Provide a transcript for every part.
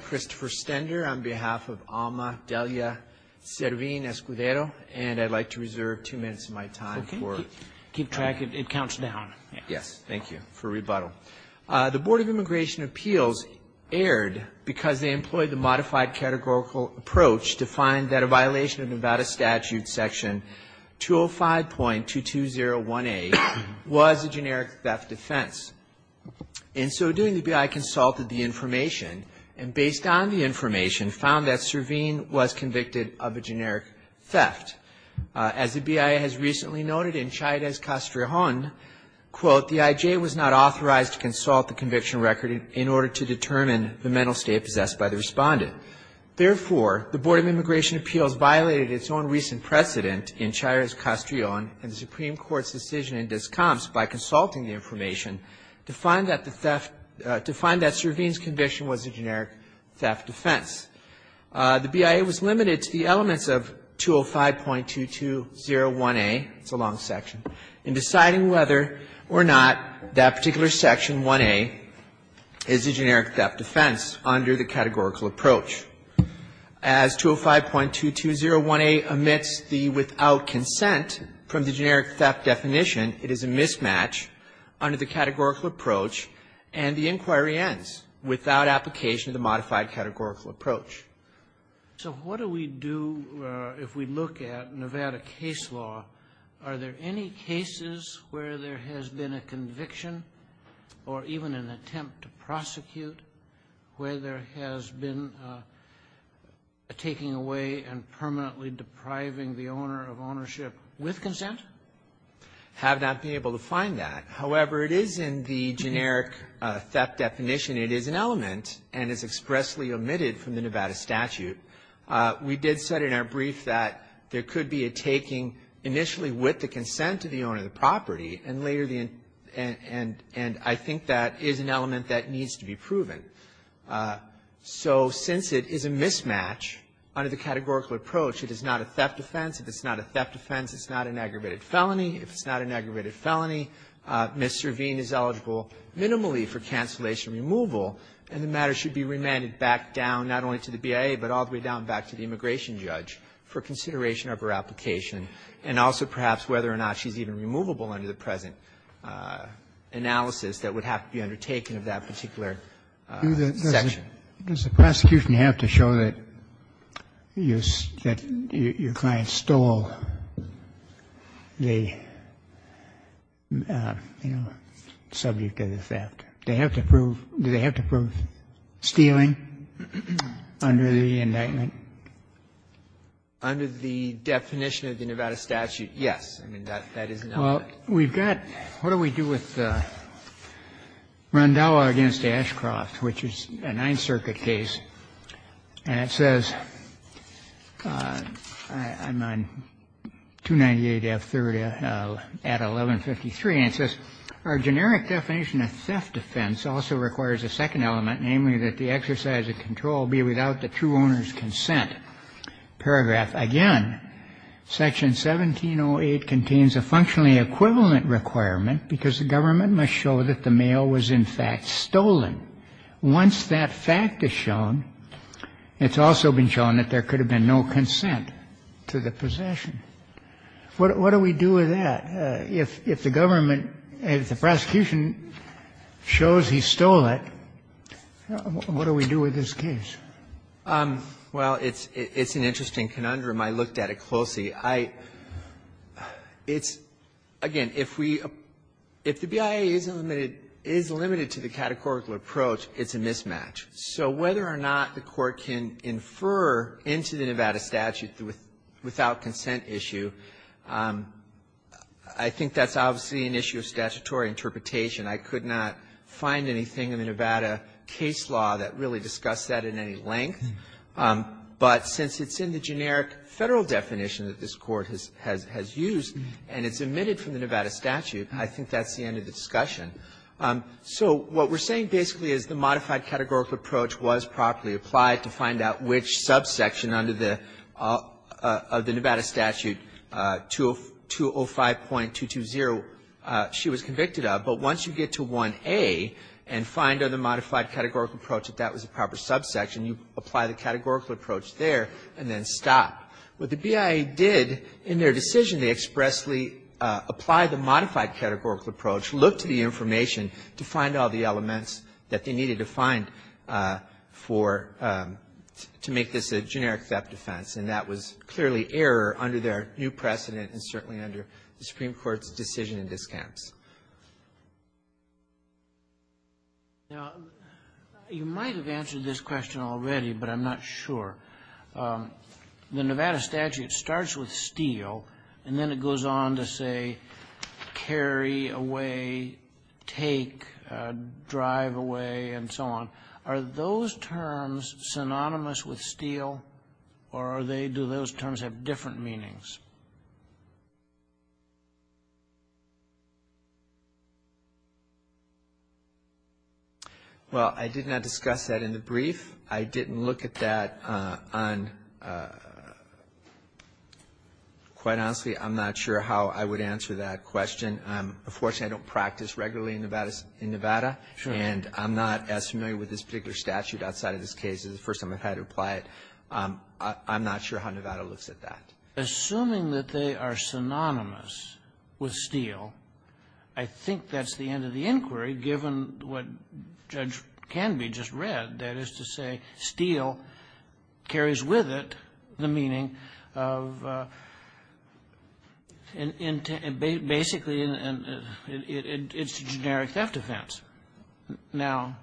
Christopher Stender on behalf of Alma Delia Servin-Escudero, and I'd like to reserve two minutes of my time for it. Okay. Keep track. It counts down. Yes. Thank you. For rebuttal. The Board of Immigration Appeals erred because they employed the modified categorical approach to find that a violation of Nevada Statute Section 205.2201A was a generic theft offense. In so doing, the BIA consulted the information, and based on the information, found that Servin was convicted of a generic theft. As the BIA has recently noted in Chayrez-Castrillon, quote, the IJ was not authorized to consult the conviction record in order to determine the mental state possessed by the respondent. Therefore, the Board of Immigration Appeals violated its own recent precedent in Chayrez-Castrillon and the Supreme Court's decision in Discomps by consulting the information to find that the theft to find that Servin's conviction was a generic theft offense. The BIA was limited to the elements of 205.2201A, it's a long section, in deciding whether or not that particular Section 1A is a generic theft offense under the categorical approach. As 205.2201A omits the without consent from the generic theft definition, it is a mismatch under the categorical approach. And the inquiry ends without application of the modified categorical approach. So what do we do if we look at Nevada case law? Are there any cases where there has been a conviction or even an attempt to prosecute where there has been a taking away and permanently depriving the owner of ownership with consent? I have not been able to find that. However, it is in the generic theft definition. It is an element and is expressly omitted from the Nevada statute. We did set in our brief that there could be a taking initially with the consent of the owner of the property, and later the end. And I think that is an element that needs to be proven. So since it is a mismatch under the categorical approach, it is not a theft offense. If it's not a theft offense, it's not an aggravated felony. If it's not an aggravated felony, Ms. Servine is eligible minimally for cancellation removal, and the matter should be remanded back down, not only to the BIA, but all the way down back to the immigration judge for consideration of her application and also perhaps whether or not she's even removable under the present analysis that would have to be undertaken of that particular section. Does the prosecution have to show that your client stole the subject of the theft? Do they have to prove stealing under the indictment? Under the definition of the Nevada statute, yes. I mean, that is an element. Well, we've got, what do we do with Rondalla v. Ashcroft, which is a Ninth Circuit case, and it says, I'm on 298F30 at 1153, and it says, Our generic definition of theft offense also requires a second element, namely that the exercise of control be without the true owner's consent. Paragraph, again, Section 1708 contains a functionally equivalent requirement because the government must show that the mail was, in fact, stolen. Once that fact is shown, it's also been shown that there could have been no consent to the possession. What do we do with that? If the government, if the prosecution shows he stole it, what do we do with this case? Well, it's an interesting conundrum. I looked at it closely. It's, again, if we, if the BIA is limited to the categorical approach, it's a mismatch. So whether or not the Court can infer into the Nevada statute, without consent issue, I think that's obviously an issue of statutory interpretation. I could not find anything in the Nevada case law that really discussed that in any length. But since it's in the generic Federal definition that this Court has used, and it's omitted from the Nevada statute, I think that's the end of the discussion. So what we're saying basically is the modified categorical approach was properly applied to find out which subsection under the Nevada statute, 205.220, she was convicted of. But once you get to 1A and find on the modified categorical approach that that was a proper subsection, you apply the categorical approach there and then stop. What the BIA did in their decision, they expressly applied the modified categorical approach, looked to the information to find all the elements that they needed to find for, to make this a generic theft offense. And that was clearly error under their new precedent and certainly under the Supreme Court's decision in this case. Now, you might have answered this question already, but I'm not sure. The Nevada statute starts with Steele, and then it goes on to say, carry a warrant away, take, drive away, and so on. Are those terms synonymous with Steele, or do those terms have different meanings? Well, I did not discuss that in the brief. I didn't look at that on, quite honestly, I'm not sure how I would answer that question. Unfortunately, I don't practice regularly in Nevada. And I'm not as familiar with this particular statute outside of this case. This is the first time I've had to apply it. I'm not sure how Nevada looks at that. Assuming that they are synonymous with Steele, I think that's the end of the inquiry, given what Judge Canby just read, that is to say Steele carries with it the meaning of, basically, it's a generic theft offense. Now,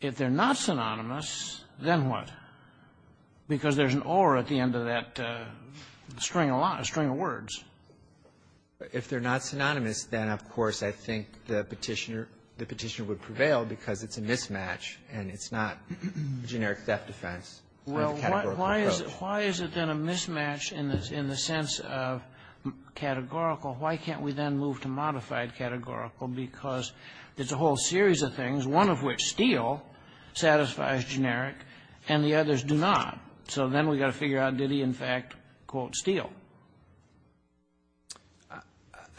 if they're not synonymous, then what? Because there's an or at the end of that string of words. If they're not synonymous, then, of course, I think the Petitioner would prevail because it's a mismatch, and it's not generic theft offense. Well, why is it then a mismatch in the sense of categorical? Why can't we then move to modified categorical? Because there's a whole series of things, one of which, Steele, satisfies generic, and the others do not. So then we've got to figure out, did he, in fact, quote Steele?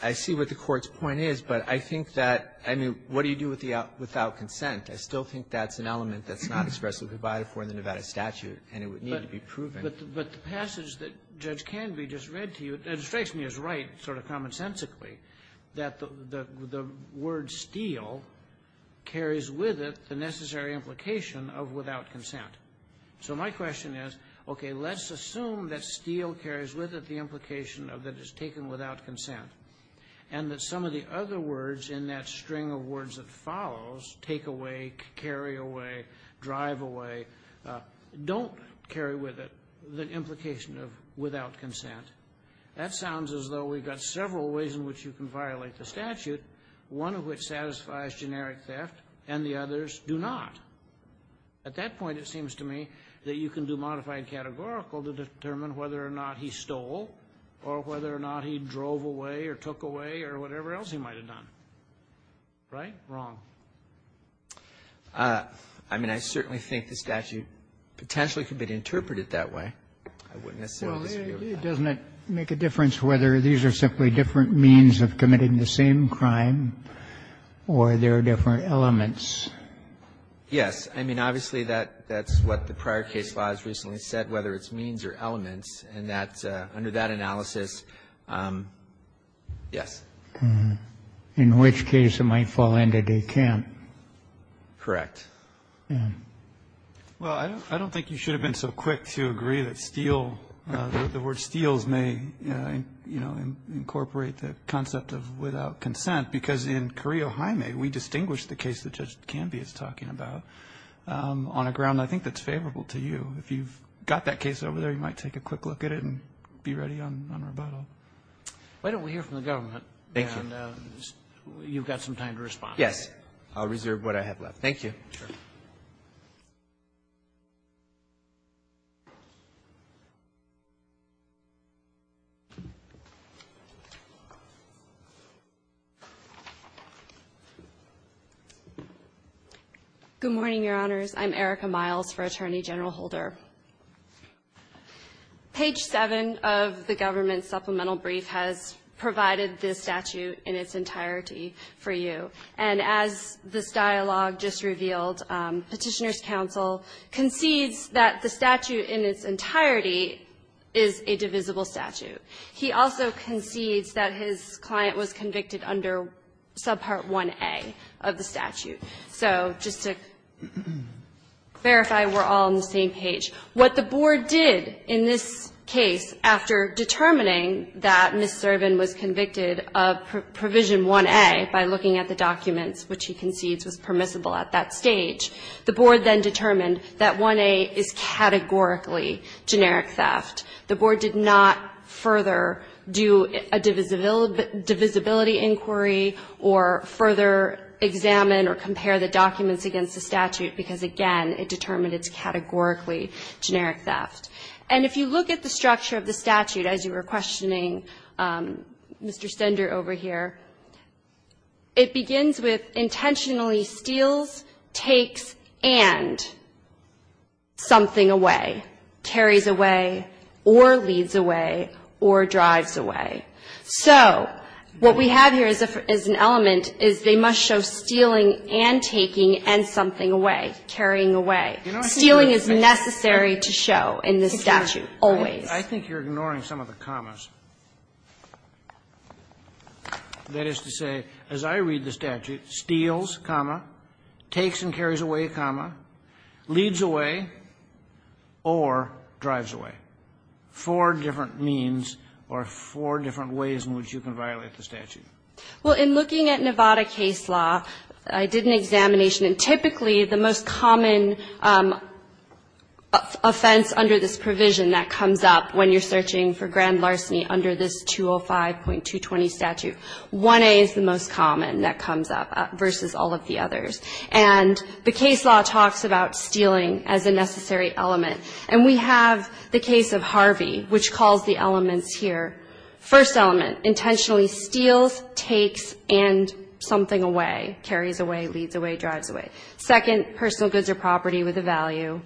I see what the Court's point is, but I think that, I mean, what do you do without consent? I still think that's an element that's not expressively provided for in the Nevada statute, and it would need to be proven. But the passage that Judge Canby just read to you, it strikes me as right, sort of commonsensically, that the word Steele carries with it the necessary implication of without consent. So my question is, okay, let's assume that Steele carries with it the implication of that it's taken without consent, and that some of the other words in that string of words that follows, take away, carry away, drive away, don't carry with it the implication of without consent. That sounds as though we've got several ways in which you can violate the statute, one of which satisfies generic theft, and the others do not. At that point, it seems to me that you can do modified categorical to determine whether or not he stole, or whether or not he drove away, or took away, or whatever else he might have done. Right? Wrong. I mean, I certainly think the statute potentially could be interpreted that way. I wouldn't necessarily disagree with that. Well, it doesn't make a difference whether these are simply different means of committing the same crime, or there are different elements. Yes. I mean, obviously, that's what the prior case law has recently said, whether it's means or elements, and that's under that analysis, yes. In which case, it might fall into decamp. Correct. Well, I don't think you should have been so quick to agree that steal, the word steals may, you know, incorporate the concept of without consent, because in Corio Jaime, we distinguish the case that Judge Canby is talking about on a ground I think that's favorable to you. If you've got that case over there, you might take a quick look at it and be ready on rebuttal. Why don't we hear from the government? Thank you. And you've got some time to respond. Yes. I'll reserve what I have left. Thank you. Sure. Good morning, Your Honors. I'm Erica Miles for Attorney General Holder. Page 7 of the government supplemental brief has provided this statute in its entirety for you. And as this dialogue just revealed, Petitioner's counsel concedes that the statute in its entirety is a divisible statute. He also concedes that his client was convicted under subpart 1A of the statute. So just to verify we're all on the same page, what the board did in this case after determining that Ms. Thurvin was convicted of provision 1A by looking at the documents which he concedes was permissible at that stage, the board then determined that 1A is categorically generic theft. The board did not further do a divisibility inquiry or further examine or compare the documents against the statute because, again, it determined it's categorically generic theft. And if you look at the structure of the statute as you were questioning Mr. Stender over here, it begins with intentionally steals, takes, and something away, carries away, or leads away, or drives away. So what we have here is an element is they must show stealing and taking and something away, carrying away. Stealing is necessary to show in this statute, always. I think you're ignoring some of the commas. That is to say, as I read the statute, steals, comma, takes and carries away, comma, leads away, or drives away. Four different means or four different ways in which you can violate the statute. Well, in looking at Nevada case law, I did an examination. And typically, the most common offense under this provision that comes up when you're searching for grand larceny under this 205.220 statute, 1A is the most common that comes up versus all of the others. And the case law talks about stealing as a necessary element. And we have the case of Harvey, which calls the elements here. First element, intentionally steals, takes, and something away, carries away, leads away, drives away. Second, personal goods or property with a value.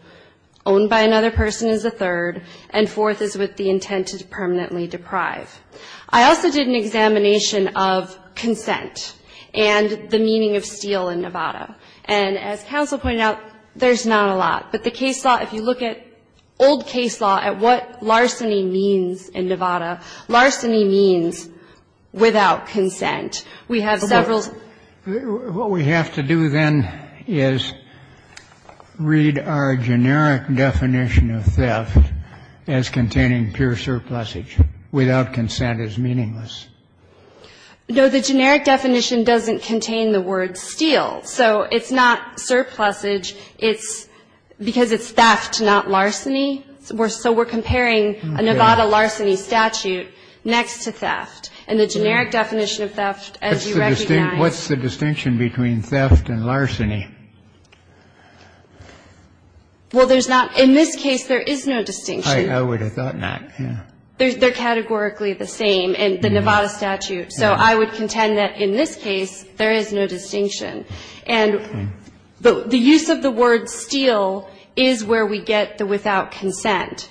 Owned by another person is the third. And fourth is with the intent to permanently deprive. I also did an examination of consent and the meaning of steal in Nevada. And as counsel pointed out, there's not a lot. But the case law, if you look at old case law, at what larceny means in Nevada, larceny means without consent. We have several. Kennedy, what do you have to say about that? What we have to do, then, is read our generic definition of theft as containing pure surplusage, without consent is meaningless. No, the generic definition doesn't contain the word steal. So it's not surplusage. It's because it's theft, not larceny. So we're comparing a Nevada larceny statute next to theft. And the generic definition of theft, as you recognize What's the distinction between theft and larceny? Well, there's not. In this case, there is no distinction. I would have thought not. They're categorically the same in the Nevada statute. So I would contend that in this case, there is no distinction. And the use of the word steal is where we get the without consent.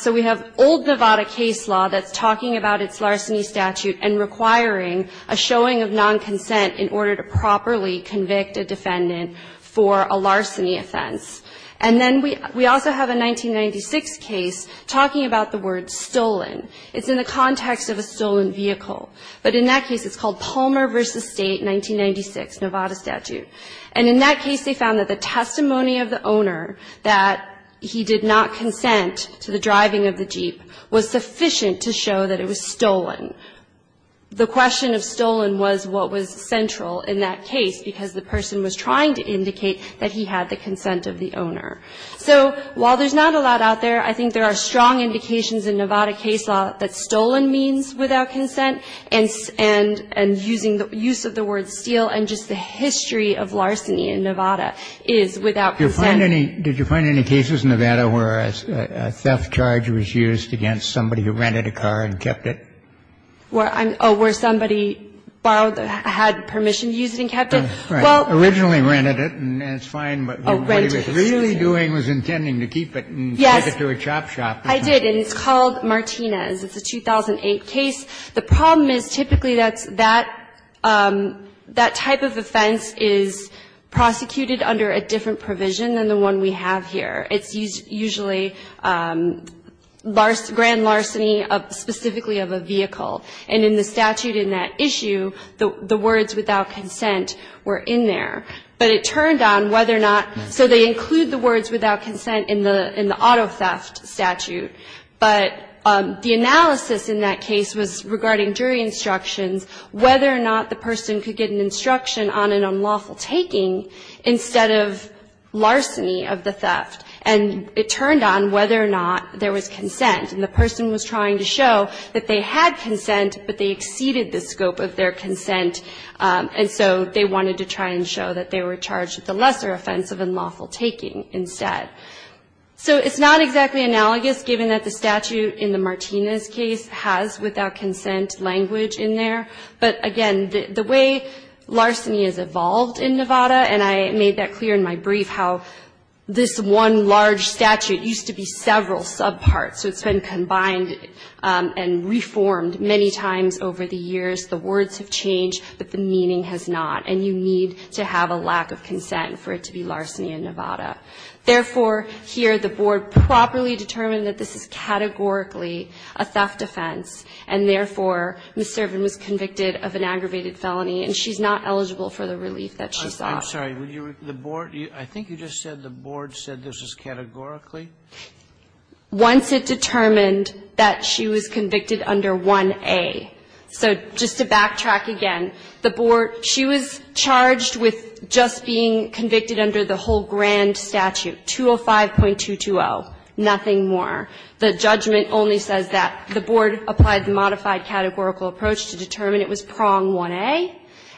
So we have old Nevada case law that's talking about its larceny statute and requiring a showing of non-consent in order to properly convict a defendant for a larceny offense. And then we also have a 1996 case talking about the word stolen. It's in the context of a stolen vehicle. But in that case, it's called Palmer v. State, 1996, Nevada statute. And in that case, they found that the testimony of the owner that he did not consent to the driving of the Jeep was sufficient to show that it was stolen. The question of stolen was what was central in that case because the person was trying to indicate that he had the consent of the owner. So while there's not a lot out there, I think there are strong indications in Nevada case law that stolen means without consent. And using the use of the word steal and just the history of larceny in Nevada is without consent. Did you find any cases in Nevada where a theft charge was used against somebody who rented a car and kept it? Where somebody had permission to use it and kept it? Originally rented it and it's fine, but what he was really doing was intending to keep it and take it to a chop shop. I did and it's called Martinez. It's a 2008 case. The problem is typically that type of offense is prosecuted under a different provision than the one we have here. It's usually grand larceny specifically of a vehicle. And in the statute in that issue, the words without consent were in there. But it turned on whether or not, so they include the words without consent in the auto theft statute. But the analysis in that case was regarding jury instructions, whether or not the person could get an instruction on an unlawful taking instead of larceny of the theft. And it turned on whether or not there was consent. And the person was trying to show that they had consent, but they exceeded the scope of their consent. And so they wanted to try and show that they were charged with a lesser offense of unlawful taking instead. So it's not exactly analogous given that the statute in the Martinez case has without consent language in there. But again, the way larceny has evolved in Nevada, and I made that clear in my brief, how this one large statute used to be several subparts. So it's been combined and reformed many times over the years. The words have changed, but the meaning has not. And you need to have a lack of consent for it to be larceny in Nevada. Therefore, here the board properly determined that this is categorically a theft offense. And therefore, Ms. Servin was convicted of an aggravated felony, and she's not eligible for the relief that she sought. I'm sorry. I think you just said the board said this is categorically? Once it determined that she was convicted under 1A. So just to backtrack again, the board, she was charged with just being convicted under the whole grand statute, 205.220. Nothing more. The judgment only says that the board applied the modified categorical approach to determine it was prong 1A,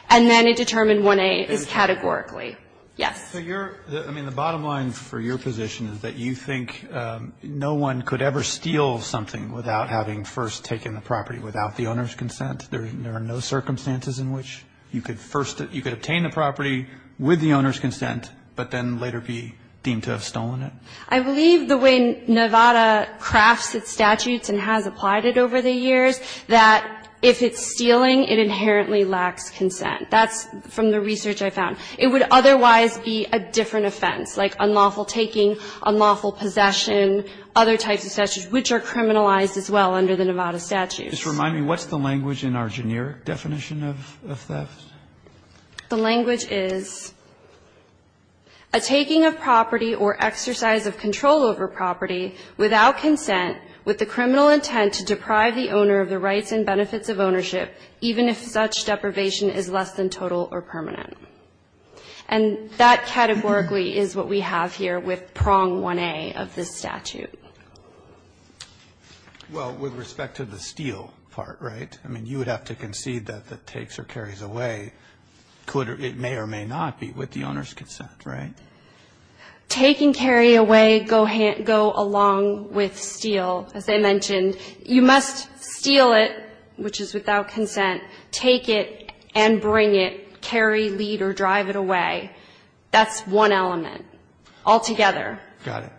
and then it determined 1A is categorically. Yes. So you're, I mean, the bottom line for your position is that you think no one could ever steal something without having first taken the property, without the owner's consent? There are no circumstances in which you could first, you could obtain the property with the owner's consent, but then later be deemed to have stolen it? I believe the way Nevada crafts its statutes and has applied it over the years, that if it's stealing, it inherently lacks consent. That's from the research I found. It would otherwise be a different offense, like unlawful taking, unlawful possession, other types of statutes, which are criminalized as well under the Nevada statutes. Just remind me, what's the language in our generic definition of theft? The language is a taking of property or exercise of control over property without consent with the criminal intent to deprive the owner of the rights and benefits of ownership, even if such deprivation is less than total or permanent. And that categorically is what we have here with prong 1A of this statute. Well, with respect to the steal part, right? I mean, you would have to concede that the takes or carries away, it may or may not be with the owner's consent, right? Take and carry away go along with steal. As I mentioned, you must steal it, which is without consent, take it and bring it, carry, lead, or drive it away. That's one element altogether. Got it.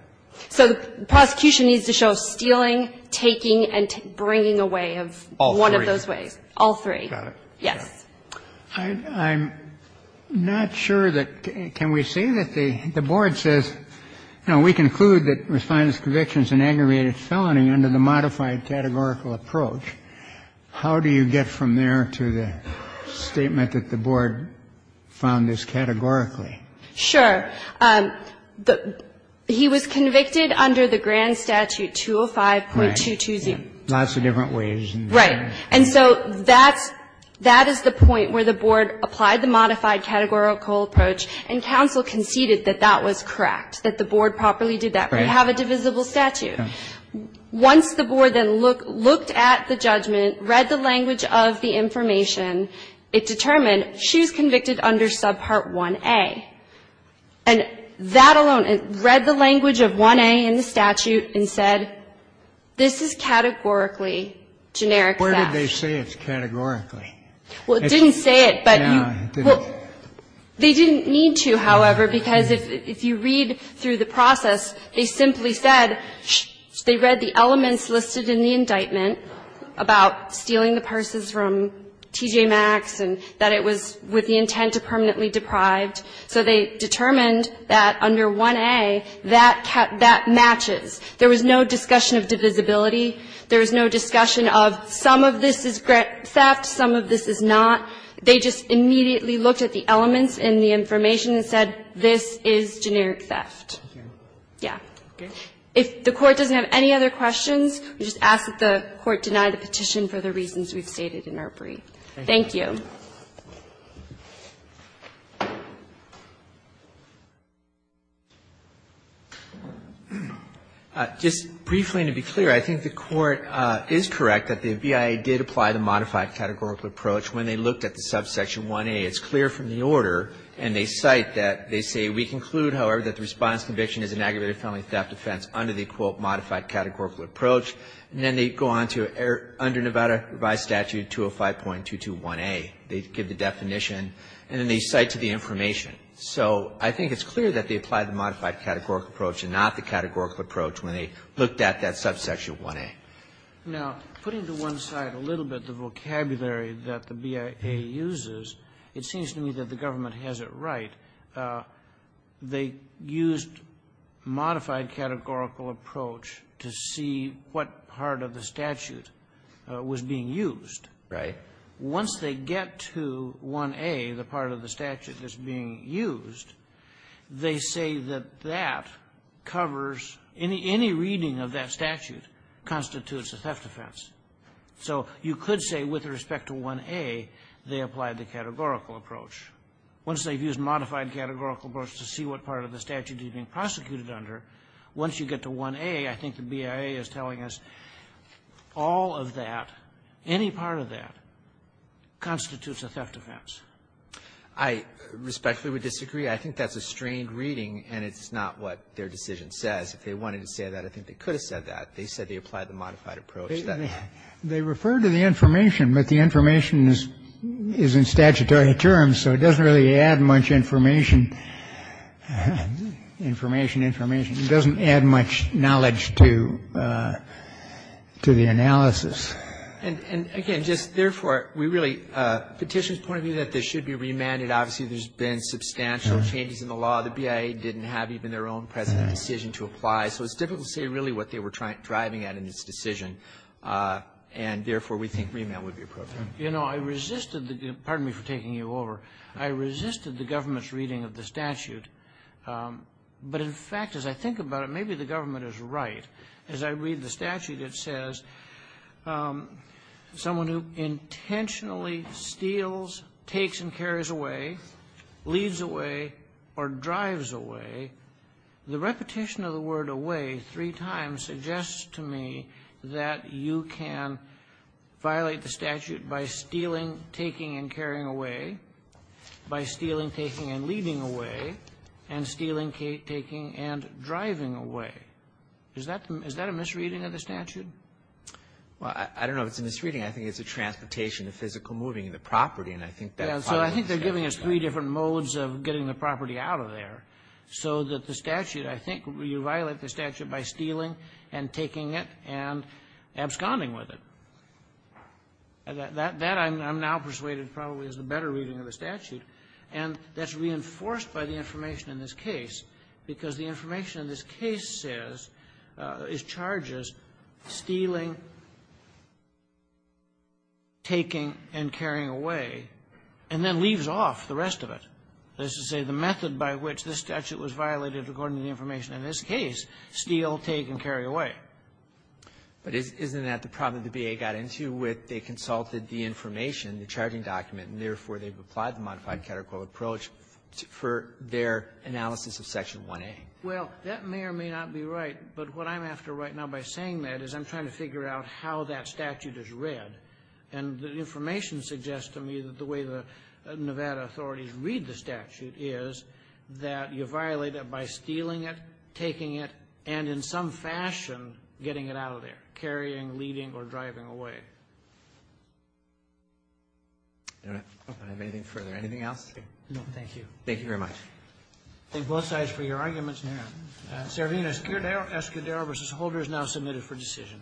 So the prosecution needs to show stealing, taking, and bringing away of one of those ways. All three. Got it. Yes. I'm not sure that can we say that the Board says, you know, we conclude that Respondent's conviction is an aggravated felony under the modified categorical approach. How do you get from there to the statement that the Board found this categorically? Sure. He was convicted under the grand statute 205.22z. Lots of different ways. Right. And so that's the point where the Board applied the modified categorical approach, and counsel conceded that that was correct, that the Board properly did that. Right. But that the Board's decision was that the Board did not have a divisible statute. Once the Board then looked at the judgment, read the language of the information, it determined she was convicted under subpart 1a. And that alone, it read the language of 1a in the statute and said, this is categorically generic theft. Where did they say it's categorically? Well, it didn't say it, but you – No, it didn't. They didn't need to, however, because if you read through the process, they simply said they read the elements listed in the indictment about stealing the purses from T.J. Maxx and that it was with the intent to permanently deprive. So they determined that under 1a, that matches. There was no discussion of divisibility. There was no discussion of some of this is theft, some of this is not. They just immediately looked at the elements in the information and said, this is generic theft. Yeah. If the Court doesn't have any other questions, we just ask that the Court deny the petition for the reasons we've stated in ARPRE. Thank you. Just briefly, and to be clear, I think the Court is correct that the BIA did apply the modified categorical approach when they looked at the subsection 1a. It's clear from the order, and they cite that they say, we conclude, however, that the response conviction is an aggravated felony theft offense under the, quote, modified categorical approach. And then they go on to, under Nevada revised statute 205.221a. They give the definition, and then they cite to the information. So I think it's clear that they applied the modified categorical approach and not the categorical approach when they looked at that subsection 1a. Now, putting to one side a little bit the vocabulary that the BIA uses, it seems to me that the government has it right. They used modified categorical approach to see what part of the statute was being used. Right. Once they get to 1a, the part of the statute that's being used, they say that that covers any reading of that statute constitutes a theft offense. So you could say with respect to 1a, they applied the categorical approach. Once they've used modified categorical approach to see what part of the statute is being prosecuted under, once you get to 1a, I think the BIA is telling us all of that, any part of that constitutes a theft offense. I respectfully would disagree. I think that's a strained reading, and it's not what their decision says. If they wanted to say that, I think they could have said that. They said they applied the modified approach. They referred to the information, but the information is in statutory terms, so it doesn't really add much information. Information, information. It doesn't add much knowledge to the analysis. And, again, just therefore, we really, Petitioner's point of view that this should be remanded. Obviously, there's been substantial changes in the law. The BIA didn't have even their own present decision to apply, so it's difficult to say really what they were driving at in this decision. And, therefore, we think remand would be appropriate. You know, I resisted the government's reading of the statute, but, in fact, as I think someone who intentionally steals, takes, and carries away, leads away, or drives away, the repetition of the word away three times suggests to me that you can violate the statute by stealing, taking, and carrying away, by stealing, taking, and leading away, and stealing, taking, and driving away. Is that a misreading of the statute? Well, I don't know if it's a misreading. I think it's a transportation, a physical moving of the property, and I think that's part of the misreading. Yeah, so I think they're giving us three different modes of getting the property out of there, so that the statute, I think, you violate the statute by stealing, and taking it, and absconding with it. That I'm now persuaded probably is the better reading of the statute. And that's reinforced by the information in this case, because the information in this case says, is charges, stealing, taking, and carrying away, and then leaves off the rest of it, that is to say, the method by which this statute was violated according to the information in this case, steal, take, and carry away. But isn't that the problem the B.A. got into with they consulted the information, the charging document, and, therefore, they've applied the modified catechol approach for their analysis of Section 1A? Well, that may or may not be right. But what I'm after right now by saying that is I'm trying to figure out how that statute is read. And the information suggests to me that the way the Nevada authorities read the statute is that you violate it by stealing it, taking it, and, in some fashion, getting it out of there, carrying, leaving, or driving away. I don't have anything further. Anything else? No, thank you. Thank you very much. Thank both sides for your arguments. And Servina Escudero v. Holder is now submitted for decision.